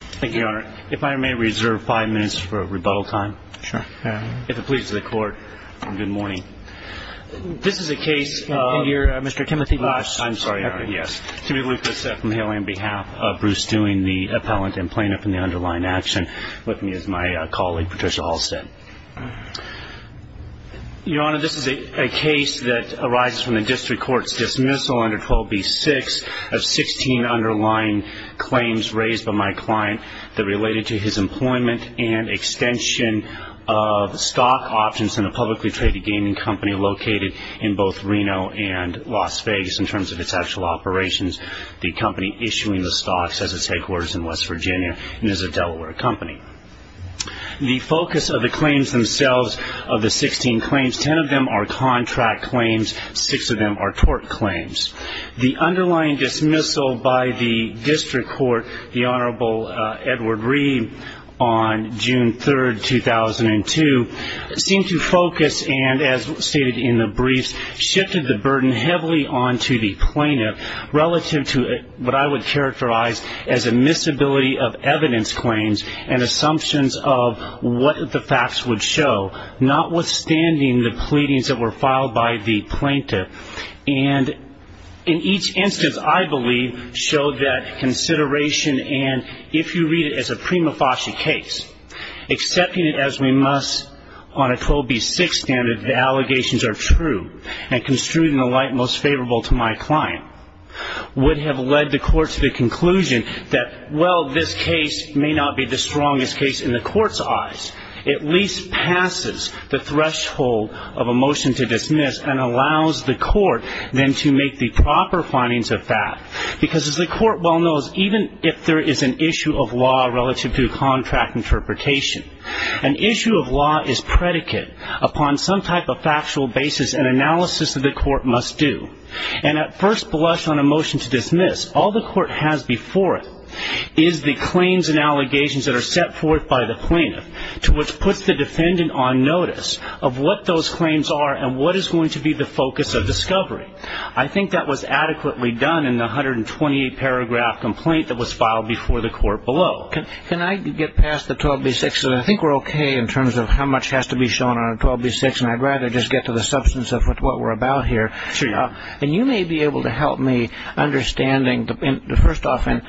Thank you your honor if I may reserve five minutes for a rebuttal time sure if it pleases the court good morning This is a case Here mr. Timothy last I'm sorry yes to be with this from Haley on behalf of Bruce doing the appellant and plaintiff in the underlying Action with me as my colleague Patricia Halstead Your honor this is a case that arises from the district courts dismissal under 12b 6 of 16 underlying Claims raised by my client that related to his employment and extension of Stock options in a publicly traded gaming company located in both Reno and Las Vegas in terms of its actual operations The company issuing the stocks as it's headquarters in West Virginia and is a Delaware company The focus of the claims themselves of the 16 claims 10 of them are contract claims Six of them are tort claims the underlying dismissal by the district court the Honorable Edward Reed on June 3rd 2002 seemed to focus and as stated in the briefs shifted the burden heavily on to the plaintiff relative to what I would characterize as a Missability of evidence claims and assumptions of what the facts would show Notwithstanding the pleadings that were filed by the plaintiff and In each instance, I believe showed that consideration and if you read it as a prima facie case Accepting it as we must on a 12b 6 standard the allegations are true and construed in the light most favorable to my client Would have led the court to the conclusion that well this case may not be the strongest case in the court's eyes at least Passes the threshold of a motion to dismiss and allows the court then to make the proper findings of fact because as the court well knows even if there is an issue of law relative to a contract interpretation an Issue of law is predicate upon some type of factual basis and analysis of the court must do and at first blush on a motion To dismiss all the court has before it is the claims and allegations that are set forth by the plaintiff To which puts the defendant on notice of what those claims are and what is going to be the focus of discovery? I think that was adequately done in the hundred and twenty-eight paragraph complaint that was filed before the court below Can I get past the 12b 6 and I think we're okay in terms of how much has to be shown on a 12b 6 And I'd rather just get to the substance of what we're about here. Yeah, and you may be able to help me understanding the first often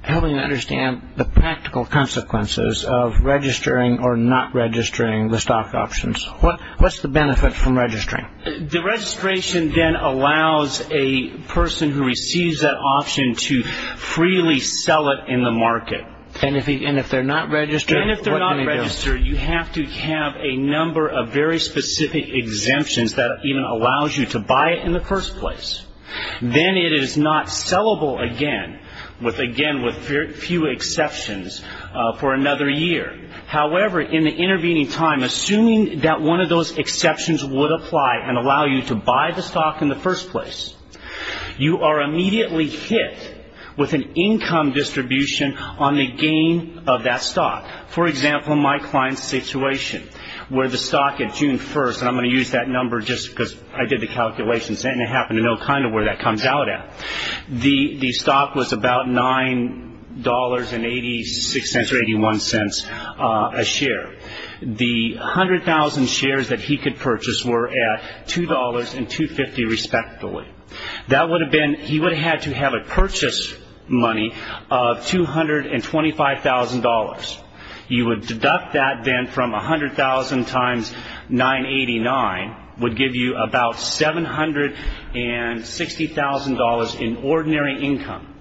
Helping to understand the practical consequences of registering or not registering the stock options What what's the benefit from registering the registration then allows a person who receives that option to? Freely sell it in the market and if he and if they're not registered if they're not registered You have to have a number of very specific exemptions that even allows you to buy it in the first place Then it is not sellable again with again with few exceptions for another year However in the intervening time assuming that one of those exceptions would apply and allow you to buy the stock in the first place You are immediately hit with an income distribution on the gain of that stock for example My client's situation where the stock at June 1st, and I'm going to use that number just because I did the calculations And it happened to know kind of where that comes out at the the stock was about nine dollars and eighty six cents or eighty one cents a share the 100,000 shares that he could purchase were at two dollars and 250 respectively That would have been he would have had to have a purchase money of two hundred and twenty five thousand dollars You would deduct that then from a hundred thousand times 989 would give you about seven hundred and $60,000 in ordinary income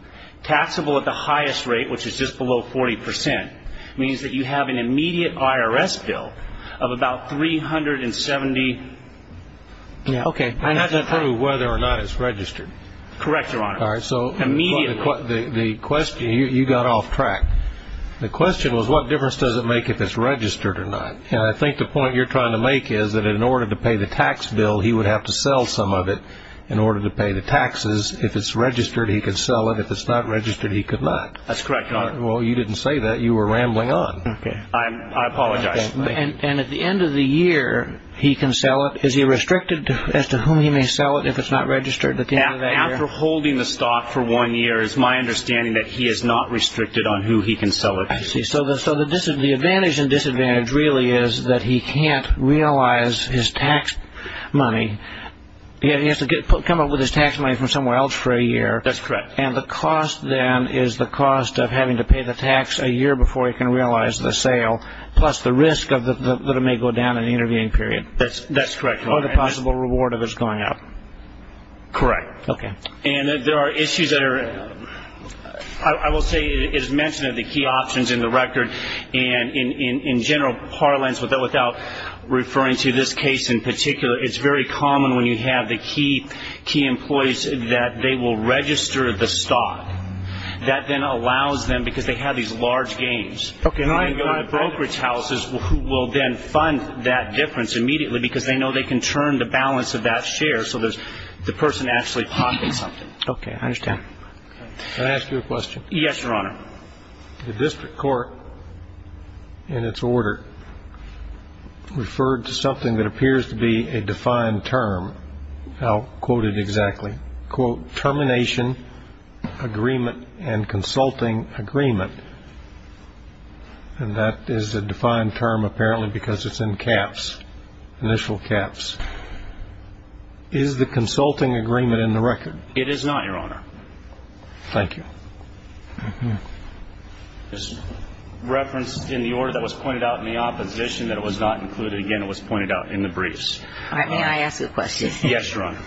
Taxable at the highest rate, which is just below 40% means that you have an immediate IRS bill of about three hundred and seventy Okay, I have to prove whether or not it's registered correct your honor so immediately the question you got off track The question was what difference does it make if it's registered or not? And I think the point you're trying to make is that in order to pay the tax bill He would have to sell some of it in order to pay the taxes if it's registered He could sell it if it's not registered. He could not that's correct. Well. You didn't say that you were rambling on okay I'm I apologize and at the end of the year He can sell it is he restricted to as to whom he may sell it if it's not registered at the end of that He can sell it I see so that so that this is the advantage and disadvantage really is that he can't realize his tax money He has to get put come up with his tax money from somewhere else for a year That's correct And the cost then is the cost of having to pay the tax a year before you can realize the sale Plus the risk of the that it may go down in the interviewing period that's that's correct or the possible reward of it's going up Correct, okay, and there are issues that are I? Options in the record and in in general parlance with that without Referring to this case in particular. It's very common when you have the key key employees that they will register the stock That then allows them because they have these large games Okay And I'm going to brokerage houses who will then fund that difference immediately because they know they can turn the balance of that share So there's the person actually pocket something okay, I understand Ask you a question yes, your honor the district court in its order Referred to something that appears to be a defined term Now quoted exactly quote termination agreement and consulting agreement And that is a defined term apparently because it's in caps initial caps Is the consulting agreement in the record it is not your honor? Thank you Just Referenced in the order that was pointed out in the opposition that it was not included again It was pointed out in the briefs all right may I ask a question yes, your honor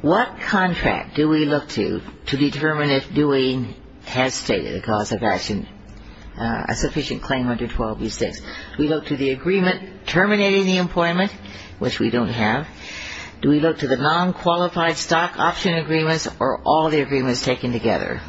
What contract do we look to to determine if doing has stated a cause of action? A sufficient claim under 12 these days we look to the agreement terminating the employment which we don't have Do we look to the non-qualified stock option agreements or all the agreements taken together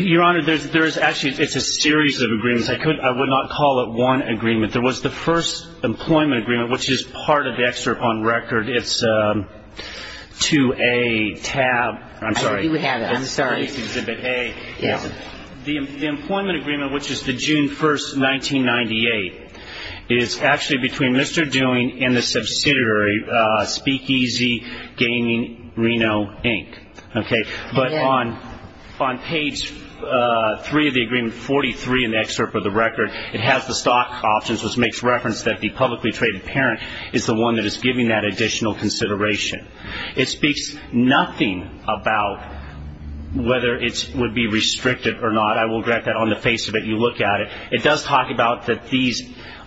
Your honor there's there's actually it's a series of agreements. I could I would not call it one agreement There was the first employment agreement, which is part of the excerpt on record. It's To a tab I'm sorry we have it. I'm sorry The employment agreement, which is the June 1st 1998 is actually between mr. Doing in the subsidiary speakeasy gaming Reno, Inc Okay, but on on page three of the agreement 43 in the excerpt of the record it has the stock options which makes reference that the publicly traded parent is The one that is giving that additional consideration it speaks nothing about Whether it would be restricted or not I will grab that on the face of it you look at it It does talk about that these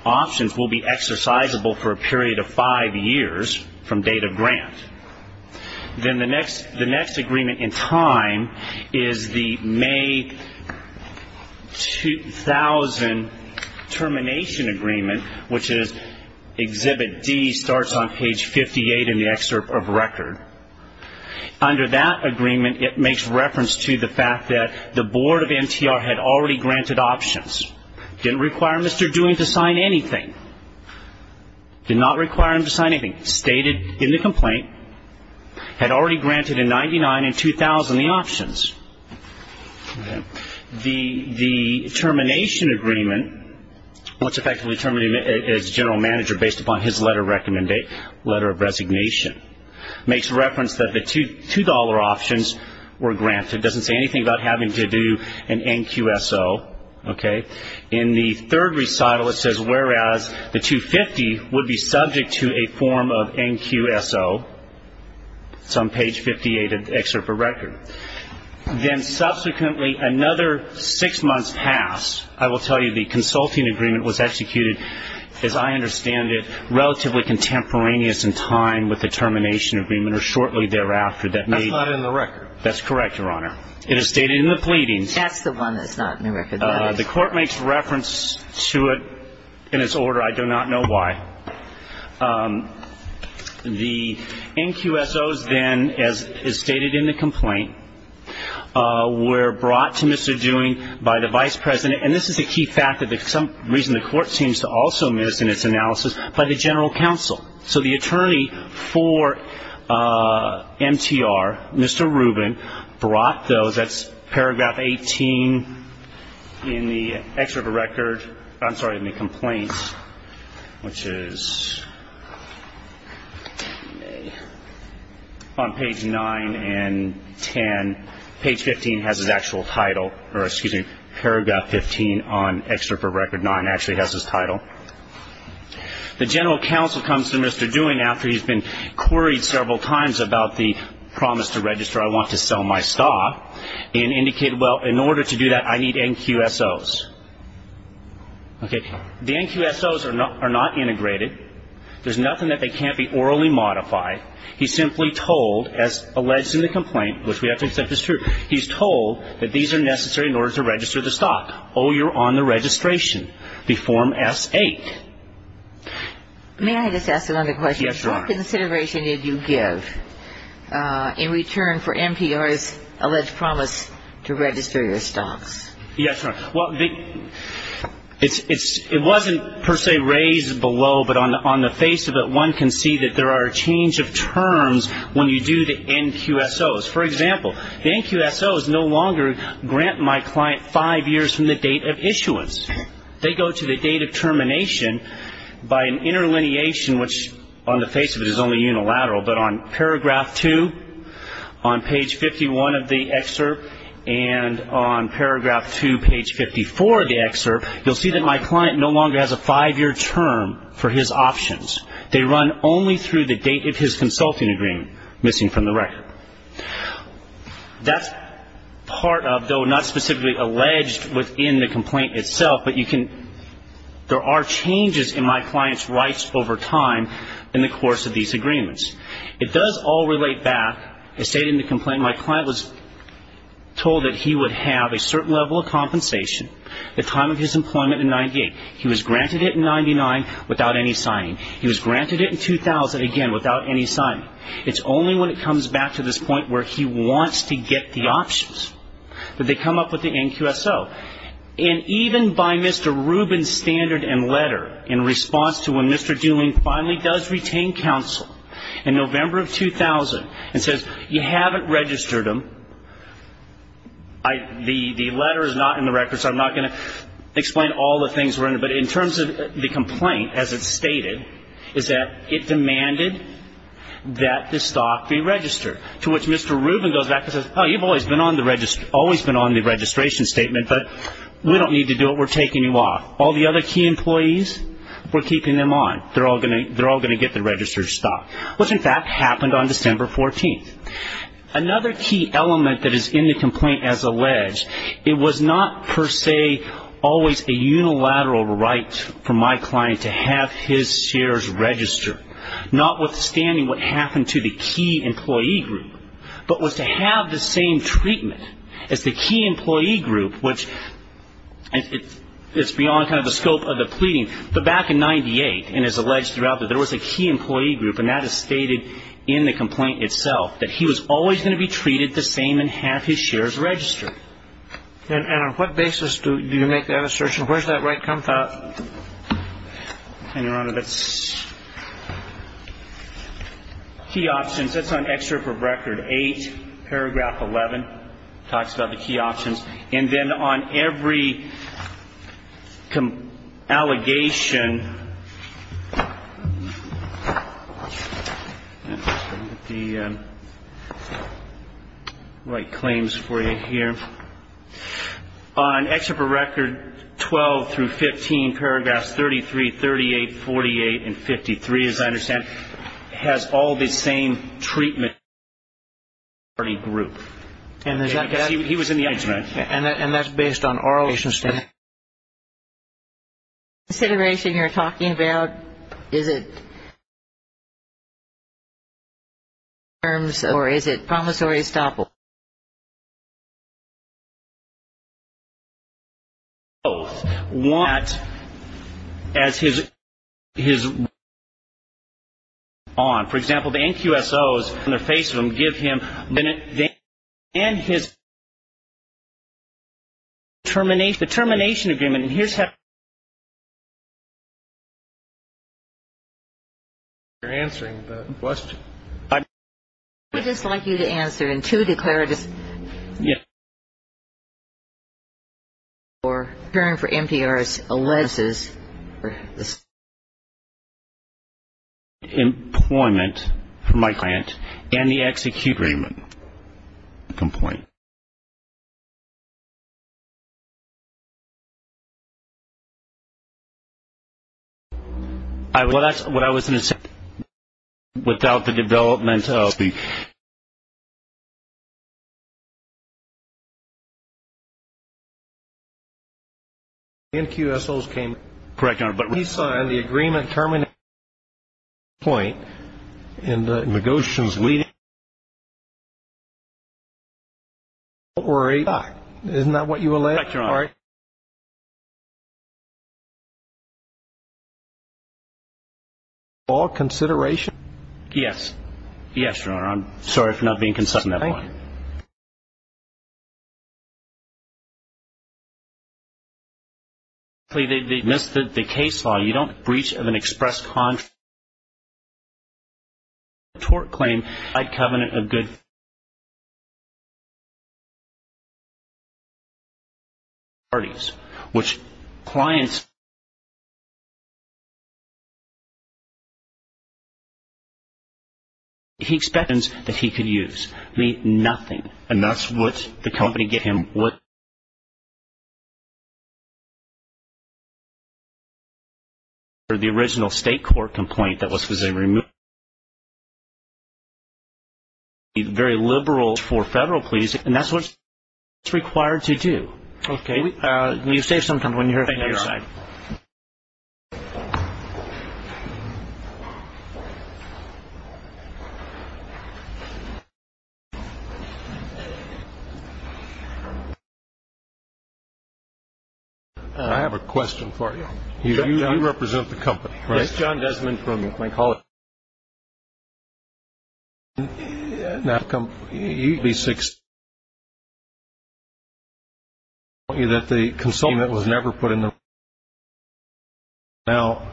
options will be exercisable for a period of five years from date of grant Then the next the next agreement in time is the May 2000 termination agreement, which is Exhibit D starts on page 58 in the excerpt of record Under that agreement it makes reference to the fact that the board of NTR had already granted options Didn't require mr. Doing to sign anything Did not require him to sign anything stated in the complaint had already granted in 99 and 2000 the options The the termination agreement What's effectively terminated as general manager based upon his letter recommend a letter of resignation? Makes reference that the two dollar options were granted doesn't say anything about having to do an NQ so Okay in the third recital it says whereas the 250 would be subject to a form of NQ so It's on page 58 of the excerpt for record Then subsequently another six months passed I will tell you the consulting agreement was executed as I understand it relatively contemporaneous in time with the termination Agreement or shortly thereafter that may not in the record. That's correct your honor. It is stated in the pleadings That's the one that's not in the record. The court makes reference to it in its order. I do not know why The NQ s o's then as is stated in the complaint Were brought to mr. Doing by the vice president And this is a key fact that there's some reason the court seems to also miss in its analysis by the general counsel so the attorney for MTR mr. Rubin brought those that's paragraph 18 In the extra of a record. I'm sorry in the complaints which is On page 9 and 10 page 15 has his actual title or excuse me paragraph 15 on extra for record 9 actually has his title The general counsel comes to mr. Doing after he's been queried several times about the promise to register I want to sell my stock and indicated well in order to do that. I need NQ s o's Okay, the NQ s o's are not are not integrated There's nothing that they can't be orally modified. He simply told as alleged in the complaint, which we have to accept He's told that these are necessary in order to register the stock. Oh, you're on the registration the form s 8 May I just ask another question? Yes, your consideration. Did you give? In return for NPR's alleged promise to register your stocks. Yes, sir. Well, they It's it's it wasn't per se raised below But on the face of it one can see that there are a change of terms when you do the NQ s o's for example The NQ s o is no longer grant my client five years from the date of issuance They go to the date of termination by an interlineation which on the face of it is only unilateral but on paragraph 2 on page 51 of the excerpt and On paragraph 2 page 54 of the excerpt you'll see that my client no longer has a five-year term for his options They run only through the date of his consulting agreement missing from the record That's part of though not specifically alleged within the complaint itself, but you can There are changes in my clients rights over time in the course of these agreements It does all relate back. I stated in the complaint. My client was Told that he would have a certain level of compensation the time of his employment in 98 He was granted it in 99 without any signing. He was granted it in 2000 again without any sign It's only when it comes back to this point where he wants to get the options that they come up with the NQ s o and Even by mr. Rubin standard and letter in response to when mr Dooling finally does retain counsel in November of 2000 and says you haven't registered him. I The the letter is not in the records I'm not going to explain all the things we're in but in terms of the complaint as it's stated is that it demanded That the stock be registered to which mr. Rubin goes back This is how you've always been on the register always been on the registration statement But we don't need to do it. We're taking you off all the other key employees. We're keeping them on They're all gonna they're all going to get the registered stock which in fact happened on December 14th Another key element that is in the complaint as alleged It was not per se always a unilateral right for my client to have his shares Registered not withstanding what happened to the key employee group but was to have the same treatment as the key employee group, which It's beyond kind of the scope of the pleading the back in 98 and is alleged throughout that there was a key employee group and That is stated in the complaint itself that he was always going to be treated the same and have his shares registered And and on what basis do you make that assertion? Where's that right comes out? And your honor that's Key options that's on extra for record 8 paragraph 11 talks about the key options and then on every come allegation The Right claims for you here On extra for record 12 through 15 paragraphs 33 38 48 and 53 as I understand Has all the same treatment? Party group and he was in the edge man. Yeah, and that's based on oral Consideration you're talking about is it Terms or is it promissory stop? You know what as his his On for example, the NQ so is in the face of them give him minute they and his Terminate the termination agreement and here's how You're answering the question I just like you to answer and to declare it is yeah Or turn for NPRS alleges Employment for my client and the execute Raymond complaint I will that's what I was in a second without the development of the You NQs those came correct on but he signed the agreement terminate point in the negotiations Or a doc, isn't that what you elect your art? All consideration, yes. Yes your honor. I'm sorry for not being consistent You Plea they missed the case law you don't breach of an express con Tort claim I'd covenant of good Parties which clients He spends that he could use me nothing and that's what the company get him what You Or the original state court complaint that was was a remove He's very liberal for federal please and that's what it's required to do. Okay, you say something when you're a I have a question for you. You don't represent the company, right? It's John Desmond for me. I call it Now come you'd be six You that the consultant was never put in them now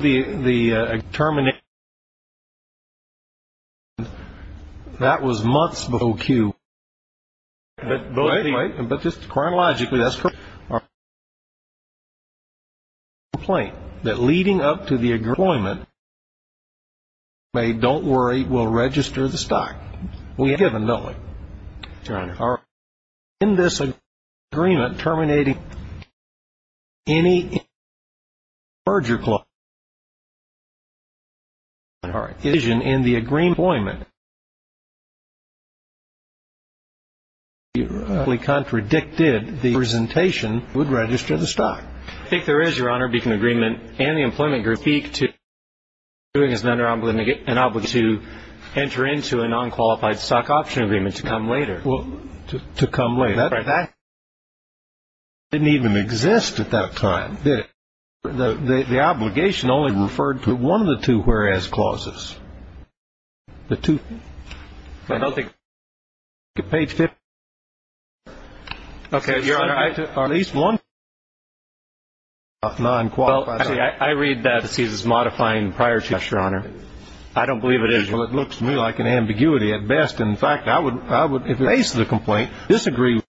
the the terminate That was months before Q But both right and but just chronologically that's correct Plain that leading up to the agreement They don't worry. We'll register the stock. We have a knowing our in this agreement terminating any Merger club All right vision in the agreement We contradicted the presentation would register the stock if there is your honor beacon agreement and the employment group speak to Doing is not around when they get an opportunity to enter into a non-qualified stock option agreement to come later Well to come way back Didn't even exist at that time that the the obligation only referred to one of the two whereas clauses the two nothing The page tip Okay, you're right at least one Nine quality I read that this is modifying prior to your honor I don't believe it is well, it looks to me like an ambiguity at best In fact, I would I would if you ace the complaint disagree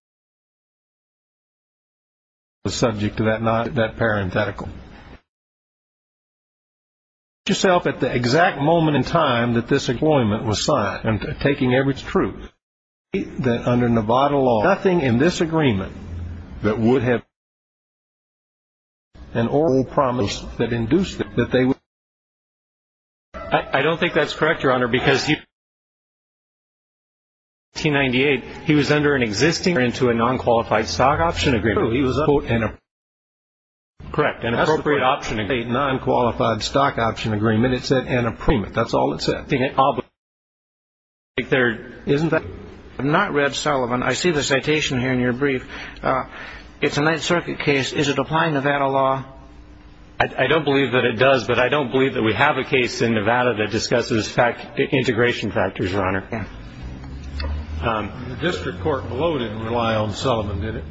The subject to that not that parenthetical You Yourself at the exact moment in time that this employment was signed and taking every truth that under Nevada law nothing in this agreement that would have An oral promise that induced that they would I don't think that's correct your honor because you T98 he was under an existing or into a non-qualified stock option agreement. He was a quote in a Correct an appropriate option a non-qualified stock option agreement. It said an appointment. That's all it said I think it all but Like there isn't that I'm not red Sullivan. I see the citation here in your brief It's a Ninth Circuit case. Is it applying Nevada law? I Don't believe that it does but I don't believe that we have a case in Nevada that discusses back to integration factors, Your Honor The District Court below didn't rely on Sullivan did it?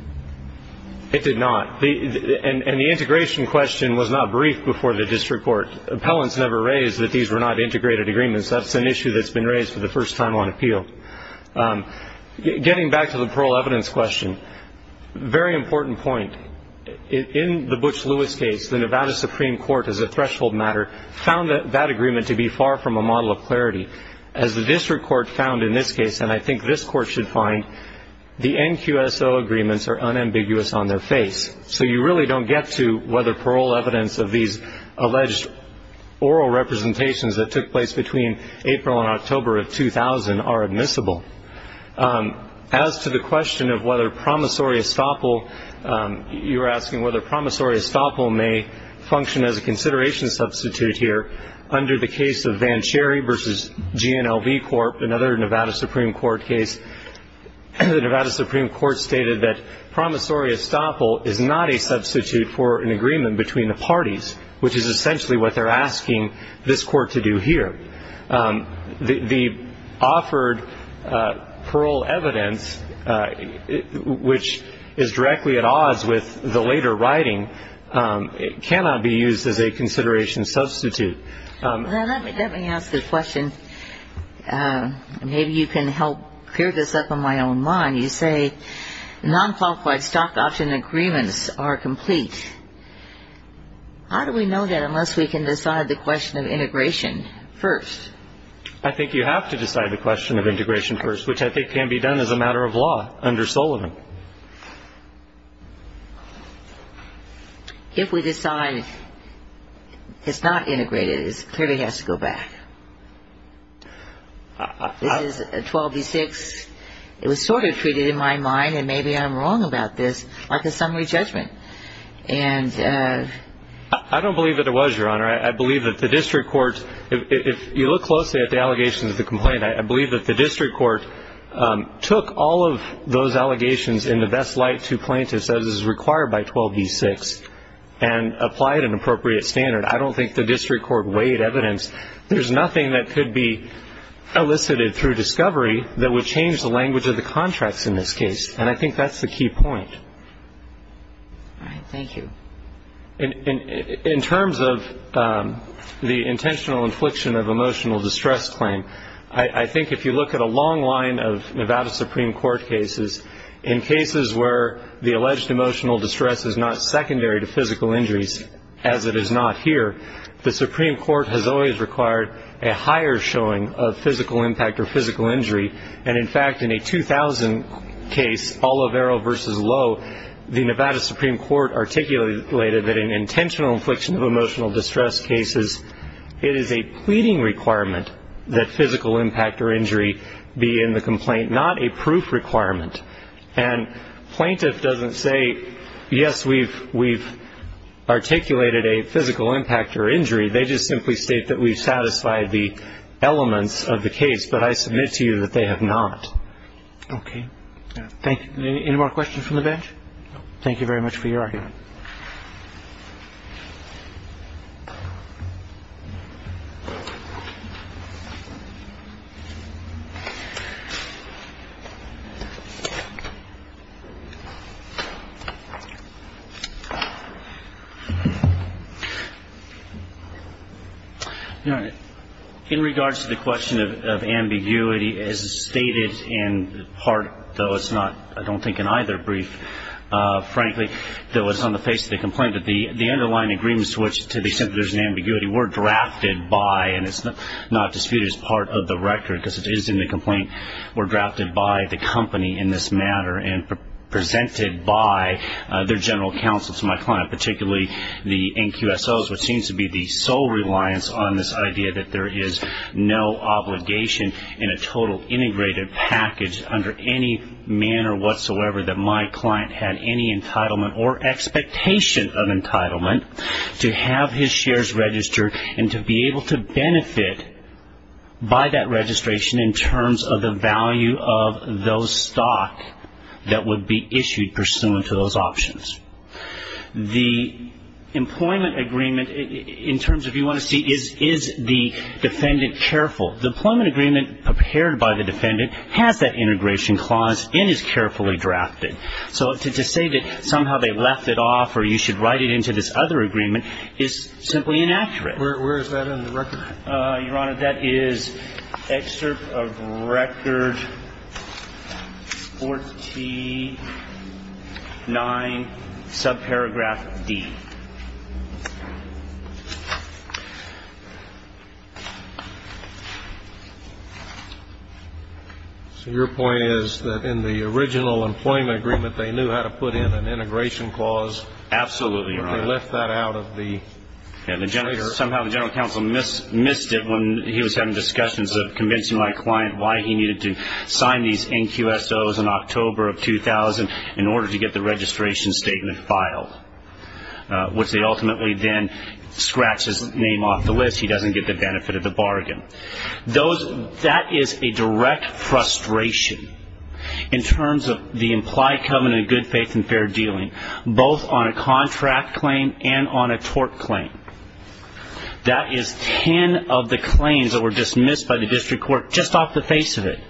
It did not the and the integration question was not brief before the district court Appellants never raised that these were not integrated agreements. That's an issue that's been raised for the first time on appeal Getting back to the parole evidence question very important point In the Butch Lewis case the Nevada Supreme Court as a threshold matter Found that that agreement to be far from a model of clarity as the district court found in this case And I think this court should find the NQSO agreements are unambiguous on their face So you really don't get to whether parole evidence of these alleged? Oral representations that took place between April and October of 2000 are admissible As to the question of whether promissory estoppel You're asking whether promissory estoppel may function as a consideration substitute here under the case of Van Cherry versus GNLB Corp another Nevada Supreme Court case And the Nevada Supreme Court stated that promissory estoppel is not a substitute for an agreement between the parties Which is essentially what they're asking this court to do here the offered parole evidence Which is directly at odds with the later writing it cannot be used as a consideration substitute Maybe you can help clear this up on my own mind you say Non-qualified stock option agreements are complete How do we know that unless we can decide the question of integration first? I think you have to decide the question of integration first, which I think can be done as a matter of law under Sullivan If we decide it's not integrated it clearly has to go back This is a 12 v 6 it was sort of treated in my mind and maybe I'm wrong about this like a summary judgment and I Don't believe that it was your honor. I believe that the district court if you look closely at the allegations of the complaint I believe that the district court took all of those allegations in the best light to plaintiffs as is required by 12 v 6 and Applied an appropriate standard. I don't think the district court weighed evidence. There's nothing that could be Elicited through discovery that would change the language of the contracts in this case, and I think that's the key point Thank you In terms of the intentional infliction of emotional distress claim I think if you look at a long line of Nevada Supreme Court cases in Cases where the alleged emotional distress is not secondary to physical injuries as it is not here The Supreme Court has always required a higher showing of physical impact or physical injury and in fact in a 2000 case all of arrow versus low the Nevada Supreme Court articulated that an intentional infliction of emotional distress cases it is a pleading requirement that physical impact or injury be in the complaint not a proof requirement and Plaintiff doesn't say yes, we've we've Articulated a physical impact or injury. They just simply state that we've satisfied the Elements of the case, but I submit to you that they have not Okay, thank you any more questions from the bench. Thank you very much for your argument In Regards to the question of ambiguity as stated in part though. It's not I don't think in either brief Frankly though it's on the face of the complaint that the the underlying agreements to which to be simply there's an ambiguity were Drafted by and it's not disputed as part of the record because it is in the complaint we're drafted by the company in this matter and presented by their general counsel to my client particularly the NQSOs which seems to be the sole reliance on this idea that there is no obligation in a total integrated Package under any manner whatsoever that my client had any entitlement or expectation of entitlement To have his shares registered and to be able to benefit By that registration in terms of the value of those stock that would be issued pursuant to those options the Employment agreement in terms of you want to see is is the defendant careful the employment agreement Prepared by the defendant has that integration clause in his carefully drafted So to say that somehow they left it off or you should write it into this other agreement is simply inaccurate Where is that in the record your honor that is? excerpt of record 49 Subparagraph D So your point is that in the original employment agreement they knew how to put in an integration clause Absolutely, or left that out of the and the generator somehow the general counsel missed missed it when he was having discussions of convincing my client Why he needed to sign these NQSOs in October of 2000 in order to get the registration statement filed Which they ultimately then scratch his name off the list. He doesn't get the benefit of the bargain Those that is a direct frustration in Terms of the implied covenant good faith and fair dealing both on a contract claim and on a tort claim That is ten of the claims that were dismissed by the district court just off the face of it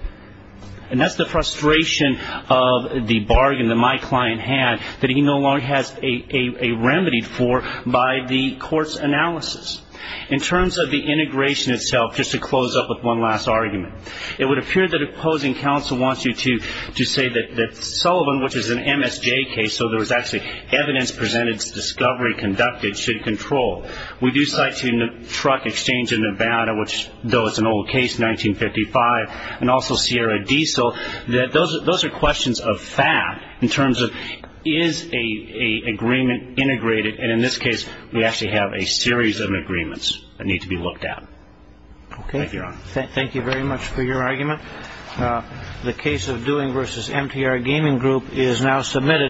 and that's the frustration of the bargain that my client had that he no longer has a remedy for by the court's analysis in terms of the integration itself just to close up with one last argument it would appear that Opposing counsel wants you to to say that that Sullivan which is an MSJ case So there was actually evidence presented discovery conducted should control we do sighting the truck exchange in Nevada Which though it's an old case 1955 and also Sierra diesel that those those are questions of fact in terms of is a Agreement integrated and in this case we actually have a series of agreements that need to be looked at Okay, thank you very much for your argument The case of doing versus MTR gaming group is now submitted